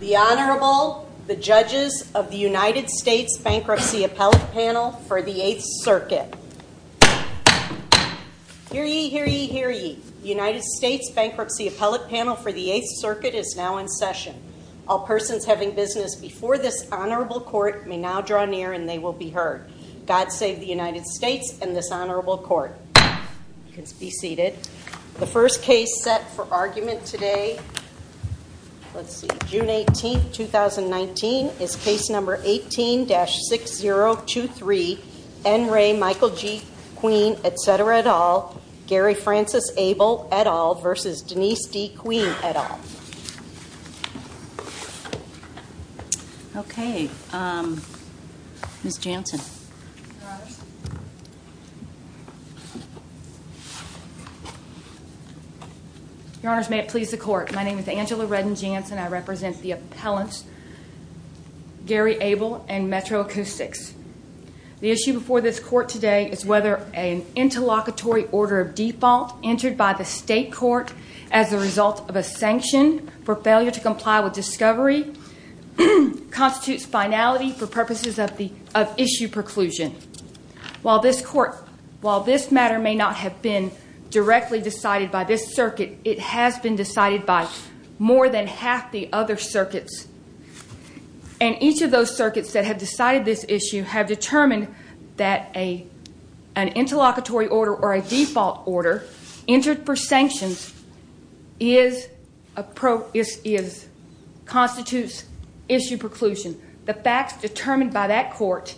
The Honorable, the judges of the United States Bankruptcy Appellate Panel for the 8th Circuit. Hear ye, hear ye, hear ye. The United States Bankruptcy Appellate Panel for the 8th Circuit is now in session. All persons having business before this Honorable Court may now draw near and they will be heard. God save the United States and this Honorable Court. You can be seated. The first case set for argument today, let's see, June 18, 2019, is case number 18-6023, N. Ray Michael G. Queen, etc. et al., Gary Francis Abel et al. v. Denise D. Queen et al. Okay, Ms. Jansen. Your Honors, may it please the Court. My name is Angela Redden Jansen. I represent the appellants Gary Abel and Metro Acoustics. The issue before this Court today is whether an interlocutory order of default entered by the State Court as a result of a sanction for failure to comply with discovery constitutes finality for purposes of issue preclusion. While this matter may not have been directly decided by this Circuit, it has been decided by more than half the other Circuits. And each of those Circuits that have decided this issue have determined that an interlocutory order or a default order entered for sanctions constitutes issue preclusion. The facts determined by that Court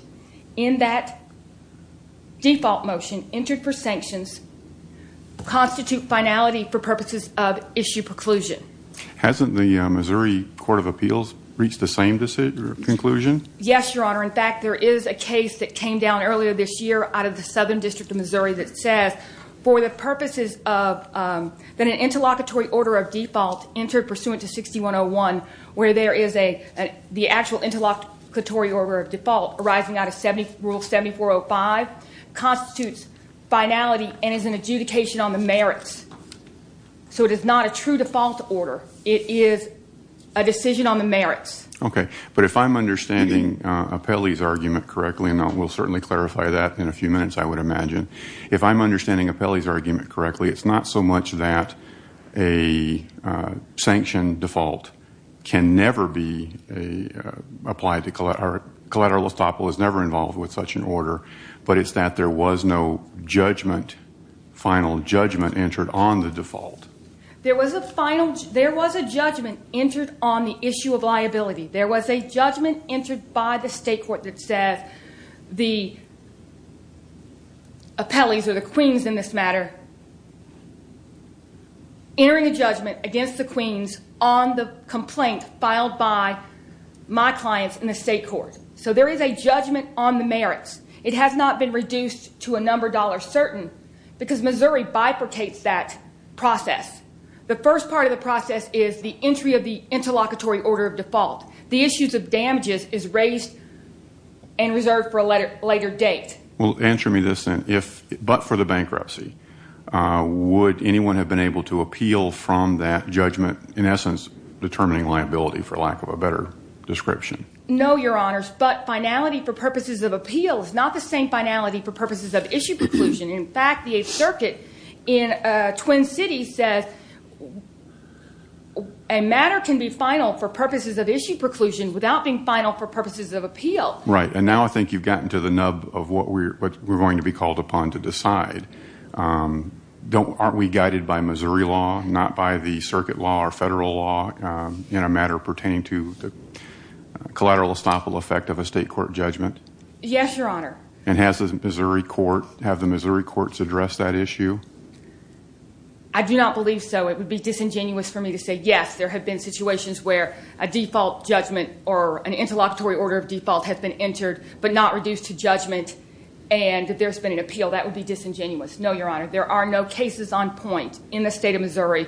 in that default motion entered for sanctions constitute finality for purposes of issue preclusion. Hasn't the Missouri Court of Appeals reached the same conclusion? Yes, Your Honor. In fact, there is a case that came down earlier this year out of the Southern District of Missouri that says for the purposes of an interlocutory order of default entered pursuant to 6101, where the actual interlocutory order of default arising out of Rule 7405 constitutes finality and is an adjudication on the merits. So it is not a true default order. It is a decision on the merits. Okay. But if I'm understanding Apelli's argument correctly, and we'll certainly clarify that in a few minutes, I would imagine, if I'm understanding Apelli's argument correctly, it's not so much that a sanction default can never be applied to collateral, or Lestoppel is never involved with such an order, but it's that there was no judgment, final judgment entered on the default. There was a judgment entered on the issue of liability. There was a judgment entered by the State Court that said the Apelli's, or the Queen's in this matter, entering a judgment against the Queen's on the complaint filed by my clients in the State Court. So there is a judgment on the merits. It has not been reduced to a number dollar certain because Missouri bifurcates that process. The first part of the process is the entry of the interlocutory order of default. The issues of damages is raised and reserved for a later date. Well, answer me this then. If, but for the bankruptcy, would anyone have been able to appeal from that judgment, in essence, determining liability for lack of a better description? No, Your Honors, but finality for purposes of appeal is not the same finality for purposes of issue preclusion. In fact, the Eighth Circuit in Twin Cities says a matter can be final for purposes of issue preclusion without being final for purposes of appeal. Right, and now I think you've gotten to the nub of what we're going to be called upon to decide. Aren't we guided by Missouri law, not by the circuit law or federal law, in a matter pertaining to the collateral estoppel effect of a State Court judgment? Yes, Your Honor. And has the Missouri courts addressed that issue? I do not believe so. It would be disingenuous for me to say yes. There have been situations where a default judgment or an interlocutory order of default has been entered, but not reduced to judgment and that there's been an appeal. That would be disingenuous. No, Your Honor, there are no cases on point in the State of Missouri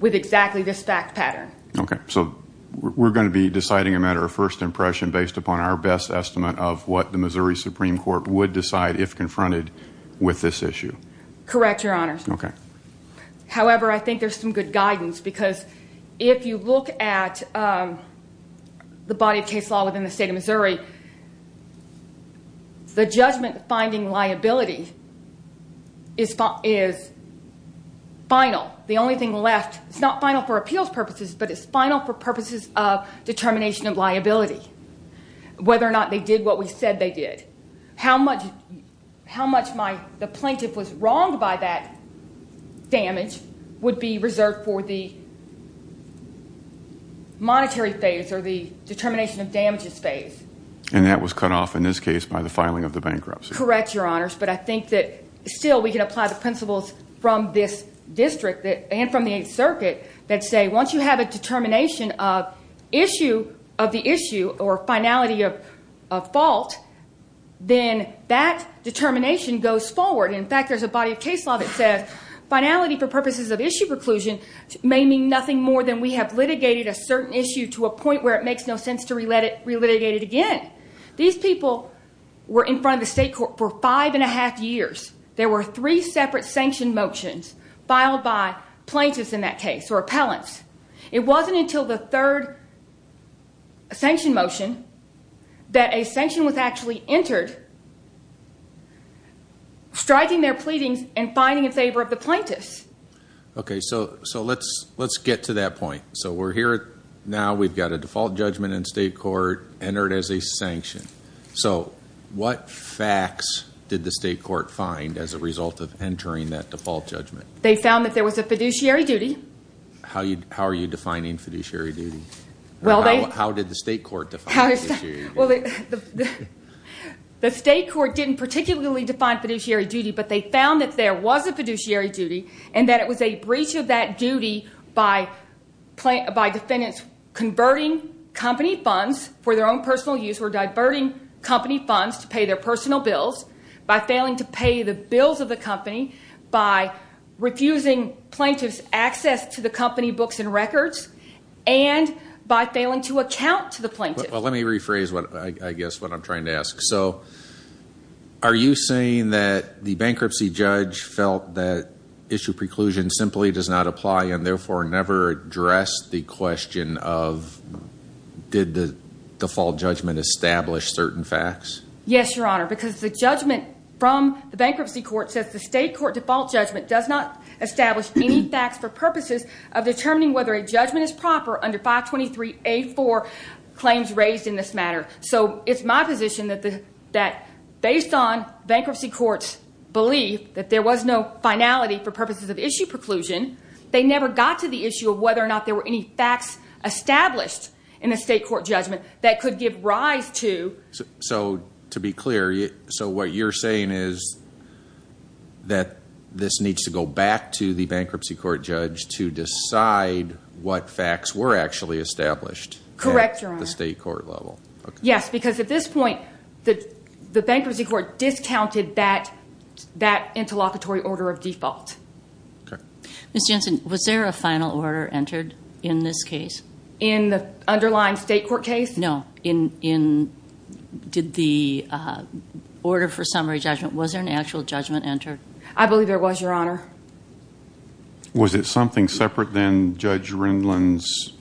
with exactly this fact pattern. Okay, so we're going to be deciding a matter of first impression based upon our best estimate of what the Missouri Supreme Court would decide if confronted with this issue. Correct, Your Honors. Okay. If you look at the body of case law within the State of Missouri, the judgment finding liability is final. The only thing left, it's not final for appeals purposes, but it's final for purposes of determination of liability, whether or not they did what we said they did. How much the plaintiff was wronged by that damage would be reserved for the monetary phase or the determination of damages phase. And that was cut off in this case by the filing of the bankruptcy. Correct, Your Honors. But I think that still we can apply the principles from this district and from the Eighth Circuit that say once you have a determination of issue of the issue or finality of fault, then that determination goes forward. In fact, there's a body of case law that says finality for purposes of issue preclusion may mean nothing more than we have litigated a certain issue to a point where it makes no sense to relitigate it again. These people were in front of the state court for five and a half years. There were three separate sanction motions filed by plaintiffs in that case or appellants. It wasn't until the third sanction motion that a sanction was actually entered striking their pleadings and finding in favor of the plaintiffs. Okay. So let's get to that point. So we're here now. We've got a default judgment in state court entered as a sanction. So what facts did the state court find as a result of entering that default judgment? They found that there was a fiduciary duty. How are you defining fiduciary duty? How did the state court define fiduciary duty? The state court didn't particularly define fiduciary duty, but they found that there was a fiduciary duty and that it was a breach of that duty by defendants converting company funds for their own personal use or diverting company funds to pay their personal bills, by failing to pay the bills of the company, by refusing plaintiffs access to the company books and records, and by failing to account to the plaintiff. Well, let me rephrase, I guess, what I'm trying to ask. So are you saying that the bankruptcy judge felt that issue preclusion simply does not apply and therefore never addressed the question of did the default judgment establish certain facts? Yes, Your Honor, because the judgment from the bankruptcy court says the state court default judgment does not establish any facts for purposes of determining whether a judgment is proper under 523A4 claims raised in this matter. So it's my position that based on bankruptcy courts' belief that there was no finality for purposes of issue preclusion, they never got to the issue of whether or not there were any facts established in a state court judgment that could give rise to. So to be clear, so what you're saying is that this needs to go back to the bankruptcy court judge to decide what facts were actually established at the state court level. Correct, Your Honor. Yes, because at this point the bankruptcy court discounted that interlocutory order of default. Okay. Ms. Jensen, was there a final order entered in this case? In the underlying state court case? No, in did the order for summary judgment, was there an actual judgment entered? I believe there was, Your Honor. Was it something separate than Judge Rendlin's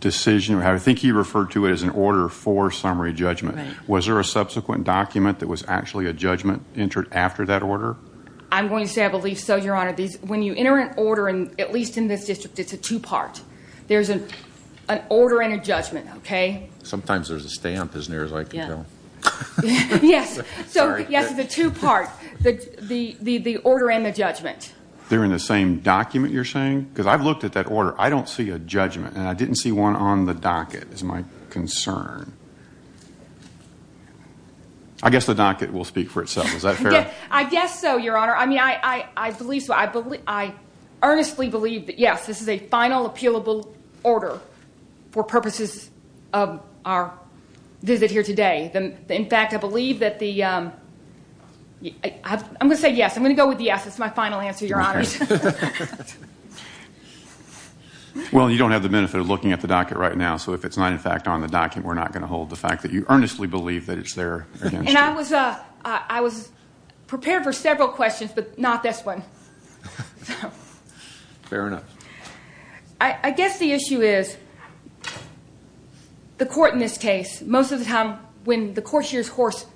decision? I think he referred to it as an order for summary judgment. Was there a subsequent document that was actually a judgment entered after that order? I'm going to say I believe so, Your Honor. When you enter an order, at least in this district, it's a two-part. There's an order and a judgment, okay? Sometimes there's a stamp as near as I can tell. Yes. Sorry. Yes, it's a two-part, the order and the judgment. They're in the same document, you're saying? Because I've looked at that order. I don't see a judgment, and I didn't see one on the docket is my concern. I guess the docket will speak for itself. Is that fair? I guess so, Your Honor. I mean, I believe so. I earnestly believe that, yes, this is a final appealable order for purposes of our visit here today. In fact, I believe that the—I'm going to say yes. I'm going to go with yes. It's my final answer, Your Honor. Well, you don't have the benefit of looking at the docket right now, so if it's not, in fact, on the docket, we're not going to hold the fact that you earnestly believe that it's there against you. And I was prepared for several questions, but not this one. Fair enough. I guess the issue is the court in this case, most of the time when the court hears horse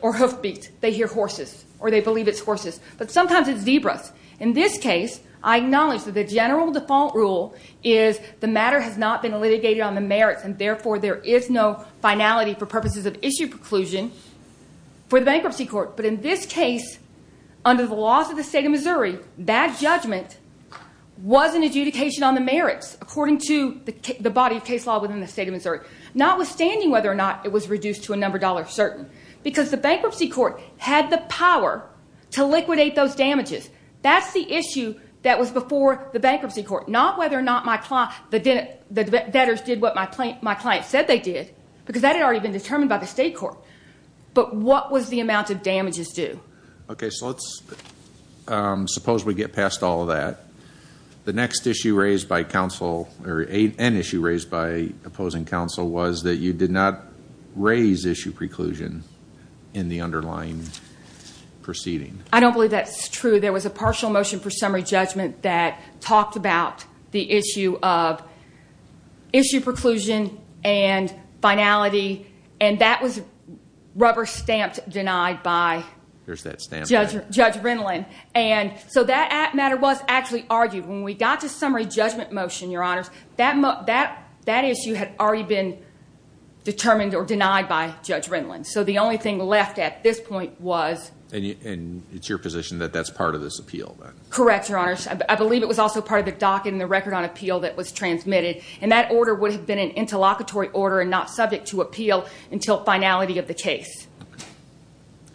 or hoof beat, they hear horses or they believe it's horses. But sometimes it's zebras. In this case, I acknowledge that the general default rule is the matter has not been litigated on the merits, and therefore there is no finality for purposes of issue preclusion for the bankruptcy court. But in this case, under the laws of the state of Missouri, that judgment was an adjudication on the merits according to the body of case law within the state of Missouri, notwithstanding whether or not it was reduced to a number dollar certain, because the bankruptcy court had the power to liquidate those damages. That's the issue that was before the bankruptcy court, not whether or not the debtors did what my client said they did, because that had already been determined by the state court. But what was the amount of damages due? Okay, so let's suppose we get past all of that. The next issue raised by counsel, or an issue raised by opposing counsel, was that you did not raise issue preclusion in the underlying proceeding. I don't believe that's true. There was a partial motion for summary judgment that talked about the issue of issue preclusion and finality, and that was rubber-stamped denied by Judge Rindland. And so that matter was actually argued. When we got to summary judgment motion, Your Honors, that issue had already been determined or denied by Judge Rindland. So the only thing left at this point was. And it's your position that that's part of this appeal? Correct, Your Honors. I believe it was also part of the docket and the record on appeal that was transmitted, and that order would have been an interlocutory order and not subject to appeal until finality of the case.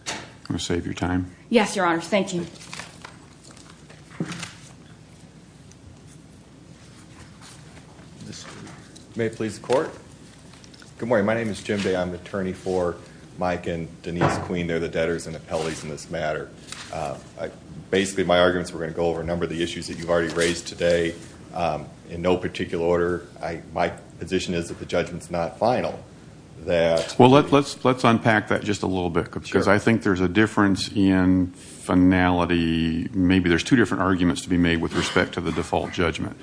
I'm going to save your time. Yes, Your Honors. Thank you. May it please the Court? Good morning. My name is Jim Day. I'm an attorney for Mike and Denise Queen. They're the debtors and appellees in this matter. Basically, my arguments were going to go over a number of the issues that you've already raised today in no particular order. My position is that the judgment's not final. Well, let's unpack that just a little bit because I think there's a difference in finality. Maybe there's two different arguments to be made with respect to the default judgment.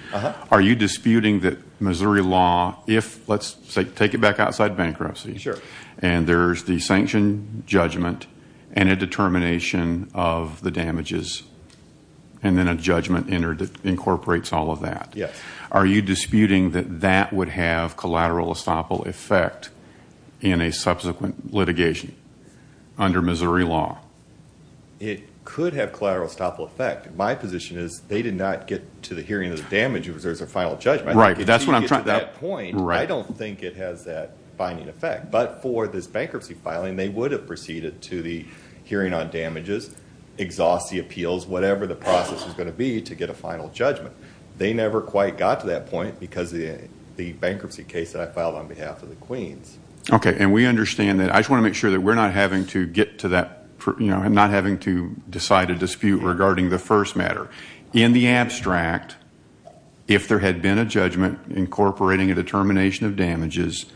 Are you disputing that Missouri law, if, let's take it back outside bankruptcy, and there's the sanction judgment and a determination of the damages and then a judgment incorporates all of that. Yes. Are you disputing that that would have collateral estoppel effect in a subsequent litigation under Missouri law? It could have collateral estoppel effect. My position is they did not get to the hearing of the damages. There's a final judgment. Right. If you get to that point, I don't think it has that binding effect. But for this bankruptcy filing, they would have proceeded to the hearing on damages, exhaust the appeals, whatever the process is going to be to get a final judgment. They never quite got to that point because of the bankruptcy case that I filed on behalf of the Queens. Okay. And we understand that. I just want to make sure that we're not having to decide a dispute regarding the first matter. In the abstract, if there had been a judgment incorporating a determination of damages,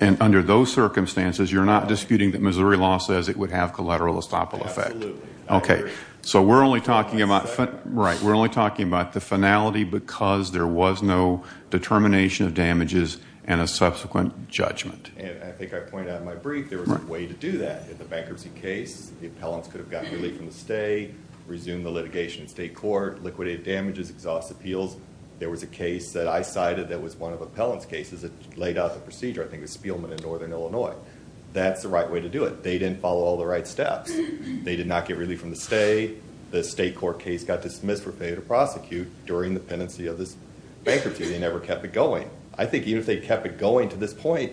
and under those circumstances you're not disputing that Missouri law says it would have collateral estoppel effect. Absolutely. Okay. So we're only talking about the finality because there was no determination of damages and a subsequent judgment. And I think I pointed out in my brief there was a way to do that. In the bankruptcy case, the appellants could have gotten relief from the state, resumed the litigation in state court, liquidated damages, exhaust appeals. There was a case that I cited that was one of the appellant's cases that laid out the procedure. I think it was Spielman in northern Illinois. That's the right way to do it. They didn't follow all the right steps. They did not get relief from the state. The state court case got dismissed for failure to prosecute during the pendency of this bankruptcy. They never kept it going. I think even if they kept it going to this point,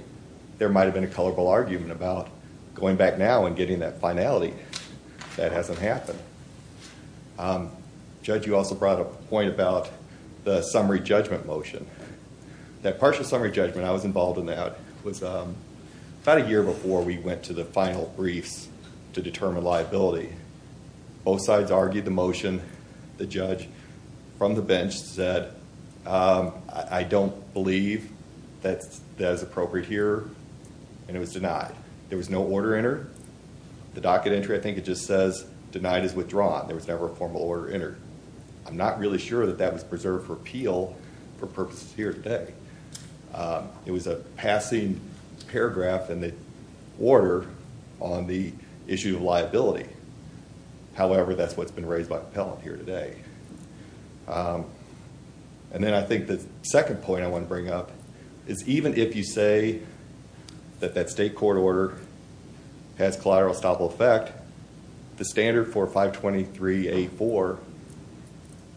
there might have been a colorful argument about going back now and getting that finality. That hasn't happened. Judge, you also brought up a point about the summary judgment motion. That partial summary judgment, I was involved in that, was about a year before we went to the final briefs to determine liability. Both sides argued the motion. The judge from the bench said, I don't believe that that is appropriate here, and it was denied. There was no order entered. The docket entry, I think it just says, denied as withdrawn. There was never a formal order entered. I'm not really sure that that was preserved for appeal for purposes here today. It was a passing paragraph in the order on the issue of liability. However, that's what's been raised by the appellant here today. Then I think the second point I want to bring up is, even if you say that that state court order has collateral estoppel effect, the standard for 523A4,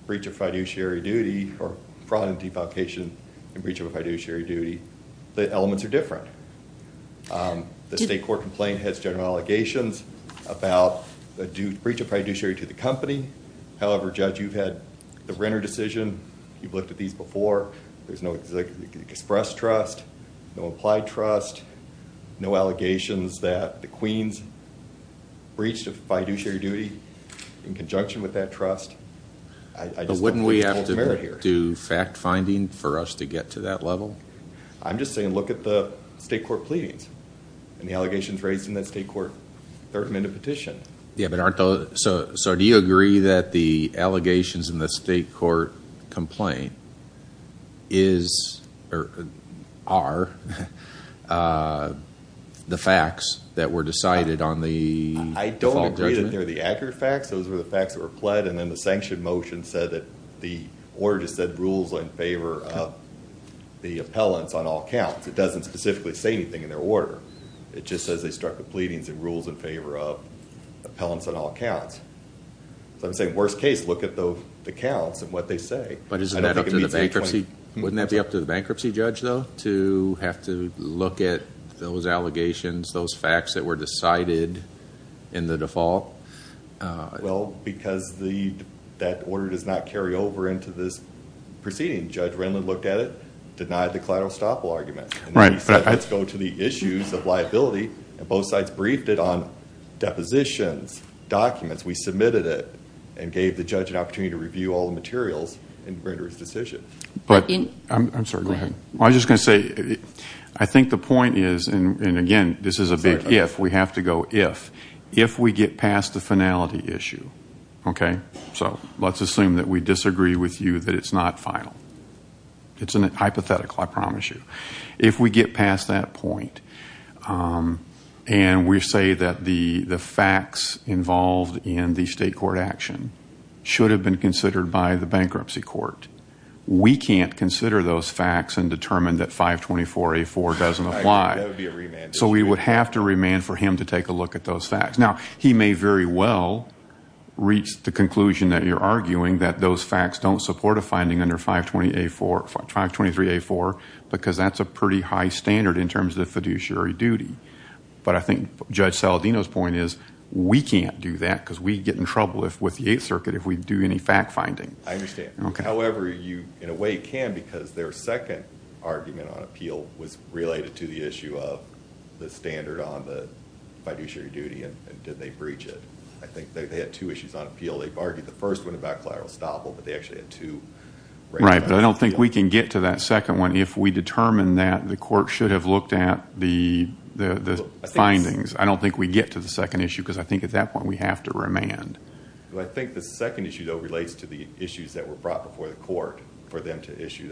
breach of fiduciary duty, or fraud and defalcation, and breach of a fiduciary duty, the elements are different. The state court complaint has general allegations about the breach of fiduciary to the company. However, Judge, you've had the renter decision. You've looked at these before. There's no express trust, no applied trust, no allegations that the Queens breached a fiduciary duty in conjunction with that trust. Wouldn't we have to do fact finding for us to get to that level? I'm just saying look at the state court pleadings and the allegations raised in that state court third amendment petition. Do you agree that the allegations in the state court complaint are the facts that were decided on the default judgment? They're the accurate facts. Those were the facts that were pled, and then the sanction motion said that the order just said rules in favor of the appellants on all counts. It doesn't specifically say anything in their order. It just says they struck the pleadings and rules in favor of appellants on all counts. So I'm saying, worst case, look at the counts and what they say. But isn't that up to the bankruptcy? Wouldn't that be up to the bankruptcy judge, though, to have to look at those allegations, those facts that were decided in the default? Well, because that order does not carry over into this proceeding. Judge Renlund looked at it, denied the collateral estoppel argument, and then he said let's go to the issues of liability, and both sides briefed it on depositions, documents. We submitted it and gave the judge an opportunity to review all the materials and render his decision. I'm sorry, go ahead. I was just going to say, I think the point is, and, again, this is a big if, we have to go if, if we get past the finality issue, okay? So let's assume that we disagree with you that it's not final. It's a hypothetical, I promise you. If we get past that point and we say that the facts involved in the state court action should have been considered by the bankruptcy court, we can't consider those facts and determine that 524A4 doesn't apply. So we would have to remand for him to take a look at those facts. Now, he may very well reach the conclusion that you're arguing, that those facts don't support a finding under 523A4, because that's a pretty high standard in terms of fiduciary duty. But I think Judge Saladino's point is we can't do that, because we'd get in trouble with the Eighth Circuit if we do any fact finding. I understand. However, you, in a way, can, because their second argument on appeal was related to the issue of the standard on the fiduciary duty and did they breach it. I think they had two issues on appeal. They argued the first one about collateral estoppel, but they actually had two. Right, but I don't think we can get to that second one. If we determine that the court should have looked at the findings, I don't think we get to the second issue, because I think at that point we have to remand. I think the second issue, though, relates to the issues that were brought before the court for them to issue.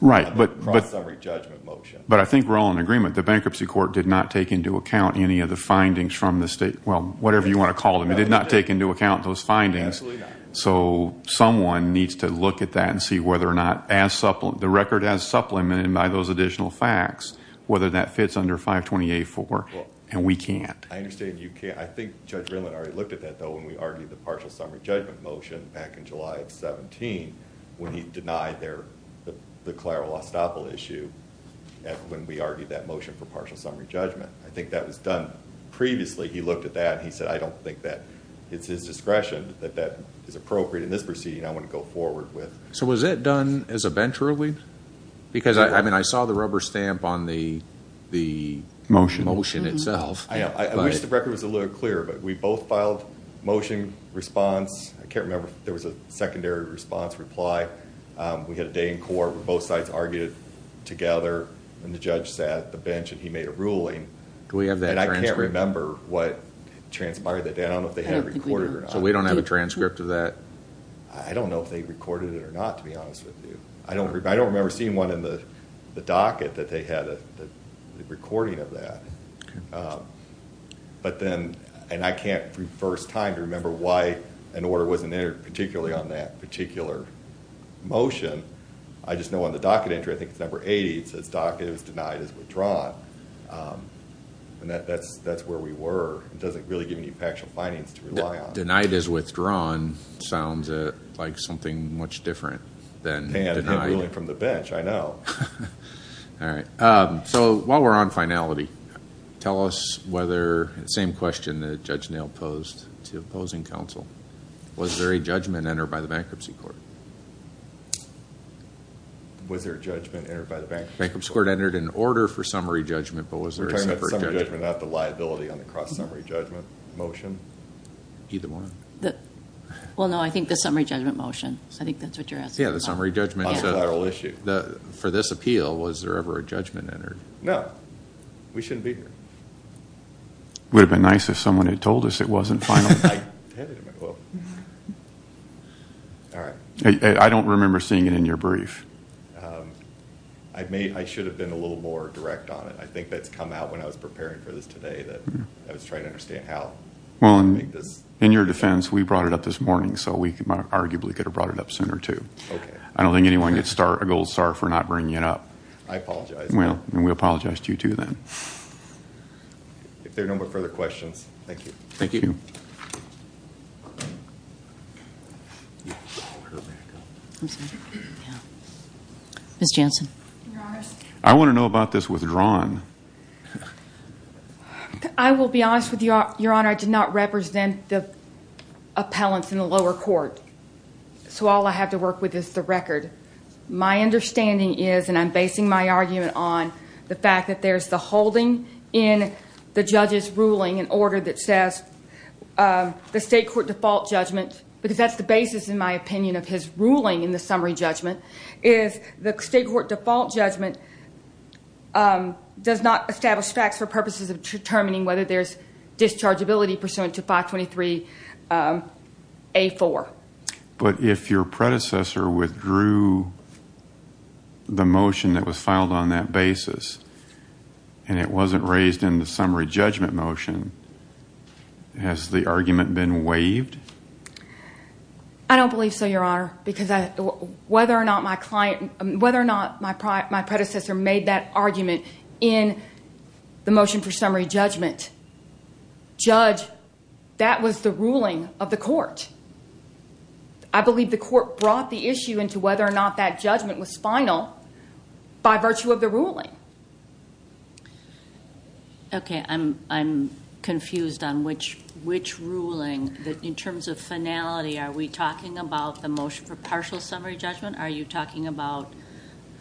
Right, but I think we're all in agreement. The bankruptcy court did not take into account any of the findings from the state. Well, whatever you want to call them. It did not take into account those findings. So someone needs to look at that and see whether or not the record has supplemented by those additional facts, whether that fits under 528-4. And we can't. I understand you can't. I think Judge Rayland already looked at that, though, when we argued the partial summary judgment motion back in July of 17, when he denied the Clara Lostoppel issue, when we argued that motion for partial summary judgment. I think that was done previously. He looked at that and he said, I don't think that it's his discretion that that is appropriate in this proceeding I want to go forward with. So was it done as a bench ruling? Because I saw the rubber stamp on the motion itself. I wish the record was a little clearer, but we both filed motion response. I can't remember if there was a secondary response reply. We had a day in court where both sides argued together, and the judge sat at the bench and he made a ruling. Do we have that transcript? And I can't remember what transpired that day. I don't know if they had it recorded or not. So we don't have a transcript of that? I don't know if they recorded it or not, to be honest with you. I don't remember seeing one in the docket that they had a recording of that. But then, and I can't, for the first time, remember why an order wasn't entered particularly on that particular motion. I just know on the docket entry, I think it's number 80, it says docket is denied as withdrawn. And that's where we were. It doesn't really give you any factual findings to rely on. Denied as withdrawn sounds like something much different than denied. And ruling from the bench, I know. All right. So while we're on finality, tell us whether, same question that Judge Nail posed to opposing counsel, was there a judgment entered by the Bankruptcy Court? Was there a judgment entered by the Bankruptcy Court? Bankruptcy Court entered an order for summary judgment, but was there a separate judgment? We're talking about summary judgment, not the liability on the cross-summary judgment motion? Either one. Well, no, I think the summary judgment motion. I think that's what you're asking about. Yeah, the summary judgment. On the federal issue. For this appeal, was there ever a judgment entered? No. We shouldn't be here. It would have been nice if someone had told us it wasn't final. I don't remember seeing it in your brief. I should have been a little more direct on it. I think that's come out when I was preparing for this today. I was trying to understand how. In your defense, we brought it up this morning, so we arguably could have brought it up sooner, too. I don't think anyone gets a gold star for not bringing it up. I apologize. Well, we apologize to you, too, then. If there are no further questions, thank you. Thank you. Ms. Jansen. Your Honor. I want to know about this withdrawn. I will be honest with you, Your Honor. I did not represent the appellants in the lower court, so all I have to work with is the record. My understanding is, and I'm basing my argument on the fact that there's the holding in the judge's ruling, an order that says the state court default judgment, because that's the basis, in my opinion, of his ruling in the summary judgment, is the state court default judgment does not establish facts for purposes of determining whether there's dischargeability pursuant to 523A4. But if your predecessor withdrew the motion that was filed on that basis and it wasn't raised in the summary judgment motion, has the argument been waived? I don't believe so, Your Honor, because whether or not my predecessor made that argument in the motion for summary judgment, judge, that was the ruling of the court. I believe the court brought the issue into whether or not that judgment was final by virtue of the ruling. Okay. I'm confused on which ruling. In terms of finality, are we talking about the motion for partial summary judgment? Are you talking about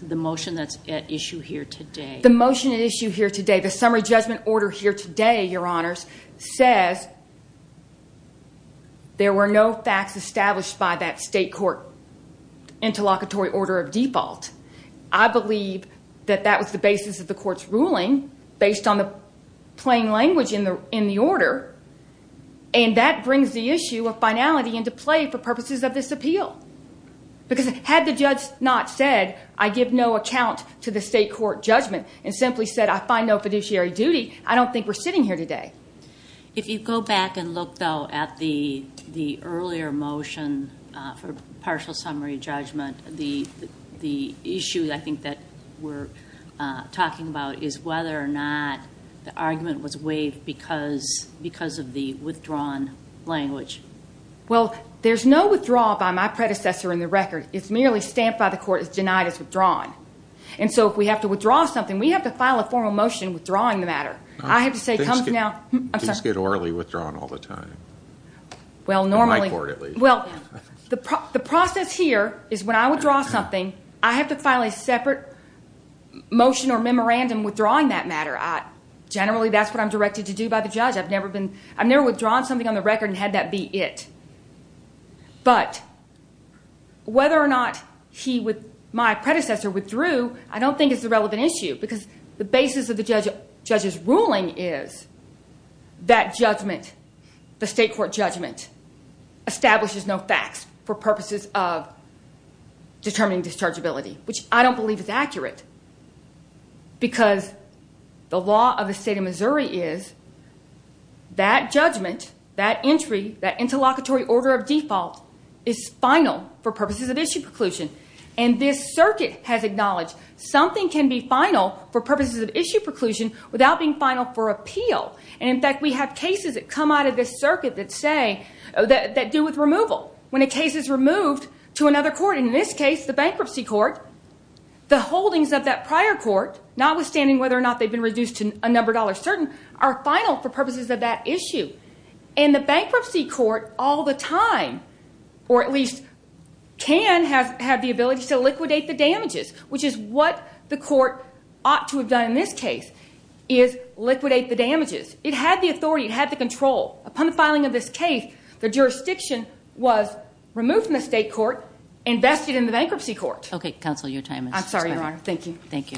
the motion that's at issue here today? The motion at issue here today, the summary judgment order here today, Your Honors, says there were no facts established by that state court interlocutory order of default. I believe that that was the basis of the court's ruling based on the plain language in the order, and that brings the issue of finality into play for purposes of this appeal. Because had the judge not said, I give no account to the state court judgment, and simply said I find no fiduciary duty, I don't think we're sitting here today. If you go back and look, though, at the earlier motion for partial summary judgment, the issue I think that we're talking about is whether or not the argument was waived because of the withdrawn language. Well, there's no withdrawal by my predecessor in the record. It's merely stamped by the court as denied as withdrawn. And so if we have to withdraw something, we have to file a formal motion withdrawing the matter. I have to say, come now. Things get orally withdrawn all the time. In my court, at least. The process here is when I withdraw something, I have to file a separate motion or memorandum withdrawing that matter. Generally, that's what I'm directed to do by the judge. I've never withdrawn something on the record and had that be it. But whether or not my predecessor withdrew, I don't think it's a relevant issue because the basis of the judge's ruling is that judgment, the state court judgment, establishes no facts for purposes of determining dischargeability, which I don't believe is accurate because the law of the state of Missouri is that judgment, that entry, that interlocutory order of default, is final for purposes of issue preclusion. And this circuit has acknowledged something can be final for purposes of issue preclusion without being final for appeal. In fact, we have cases that come out of this circuit that do with removal. When a case is removed to another court, in this case the bankruptcy court, the holdings of that prior court, notwithstanding whether or not they've been reduced to a number dollar certain, are final for purposes of that issue. And the bankruptcy court all the time, or at least can have the ability to liquidate the damages, which is what the court ought to have done in this case, is liquidate the damages. It had the authority. It had the control. Upon the filing of this case, the jurisdiction was removed from the state court, invested in the bankruptcy court. Okay, counsel, your time has expired. I'm sorry, Your Honor. Thank you. Thank you.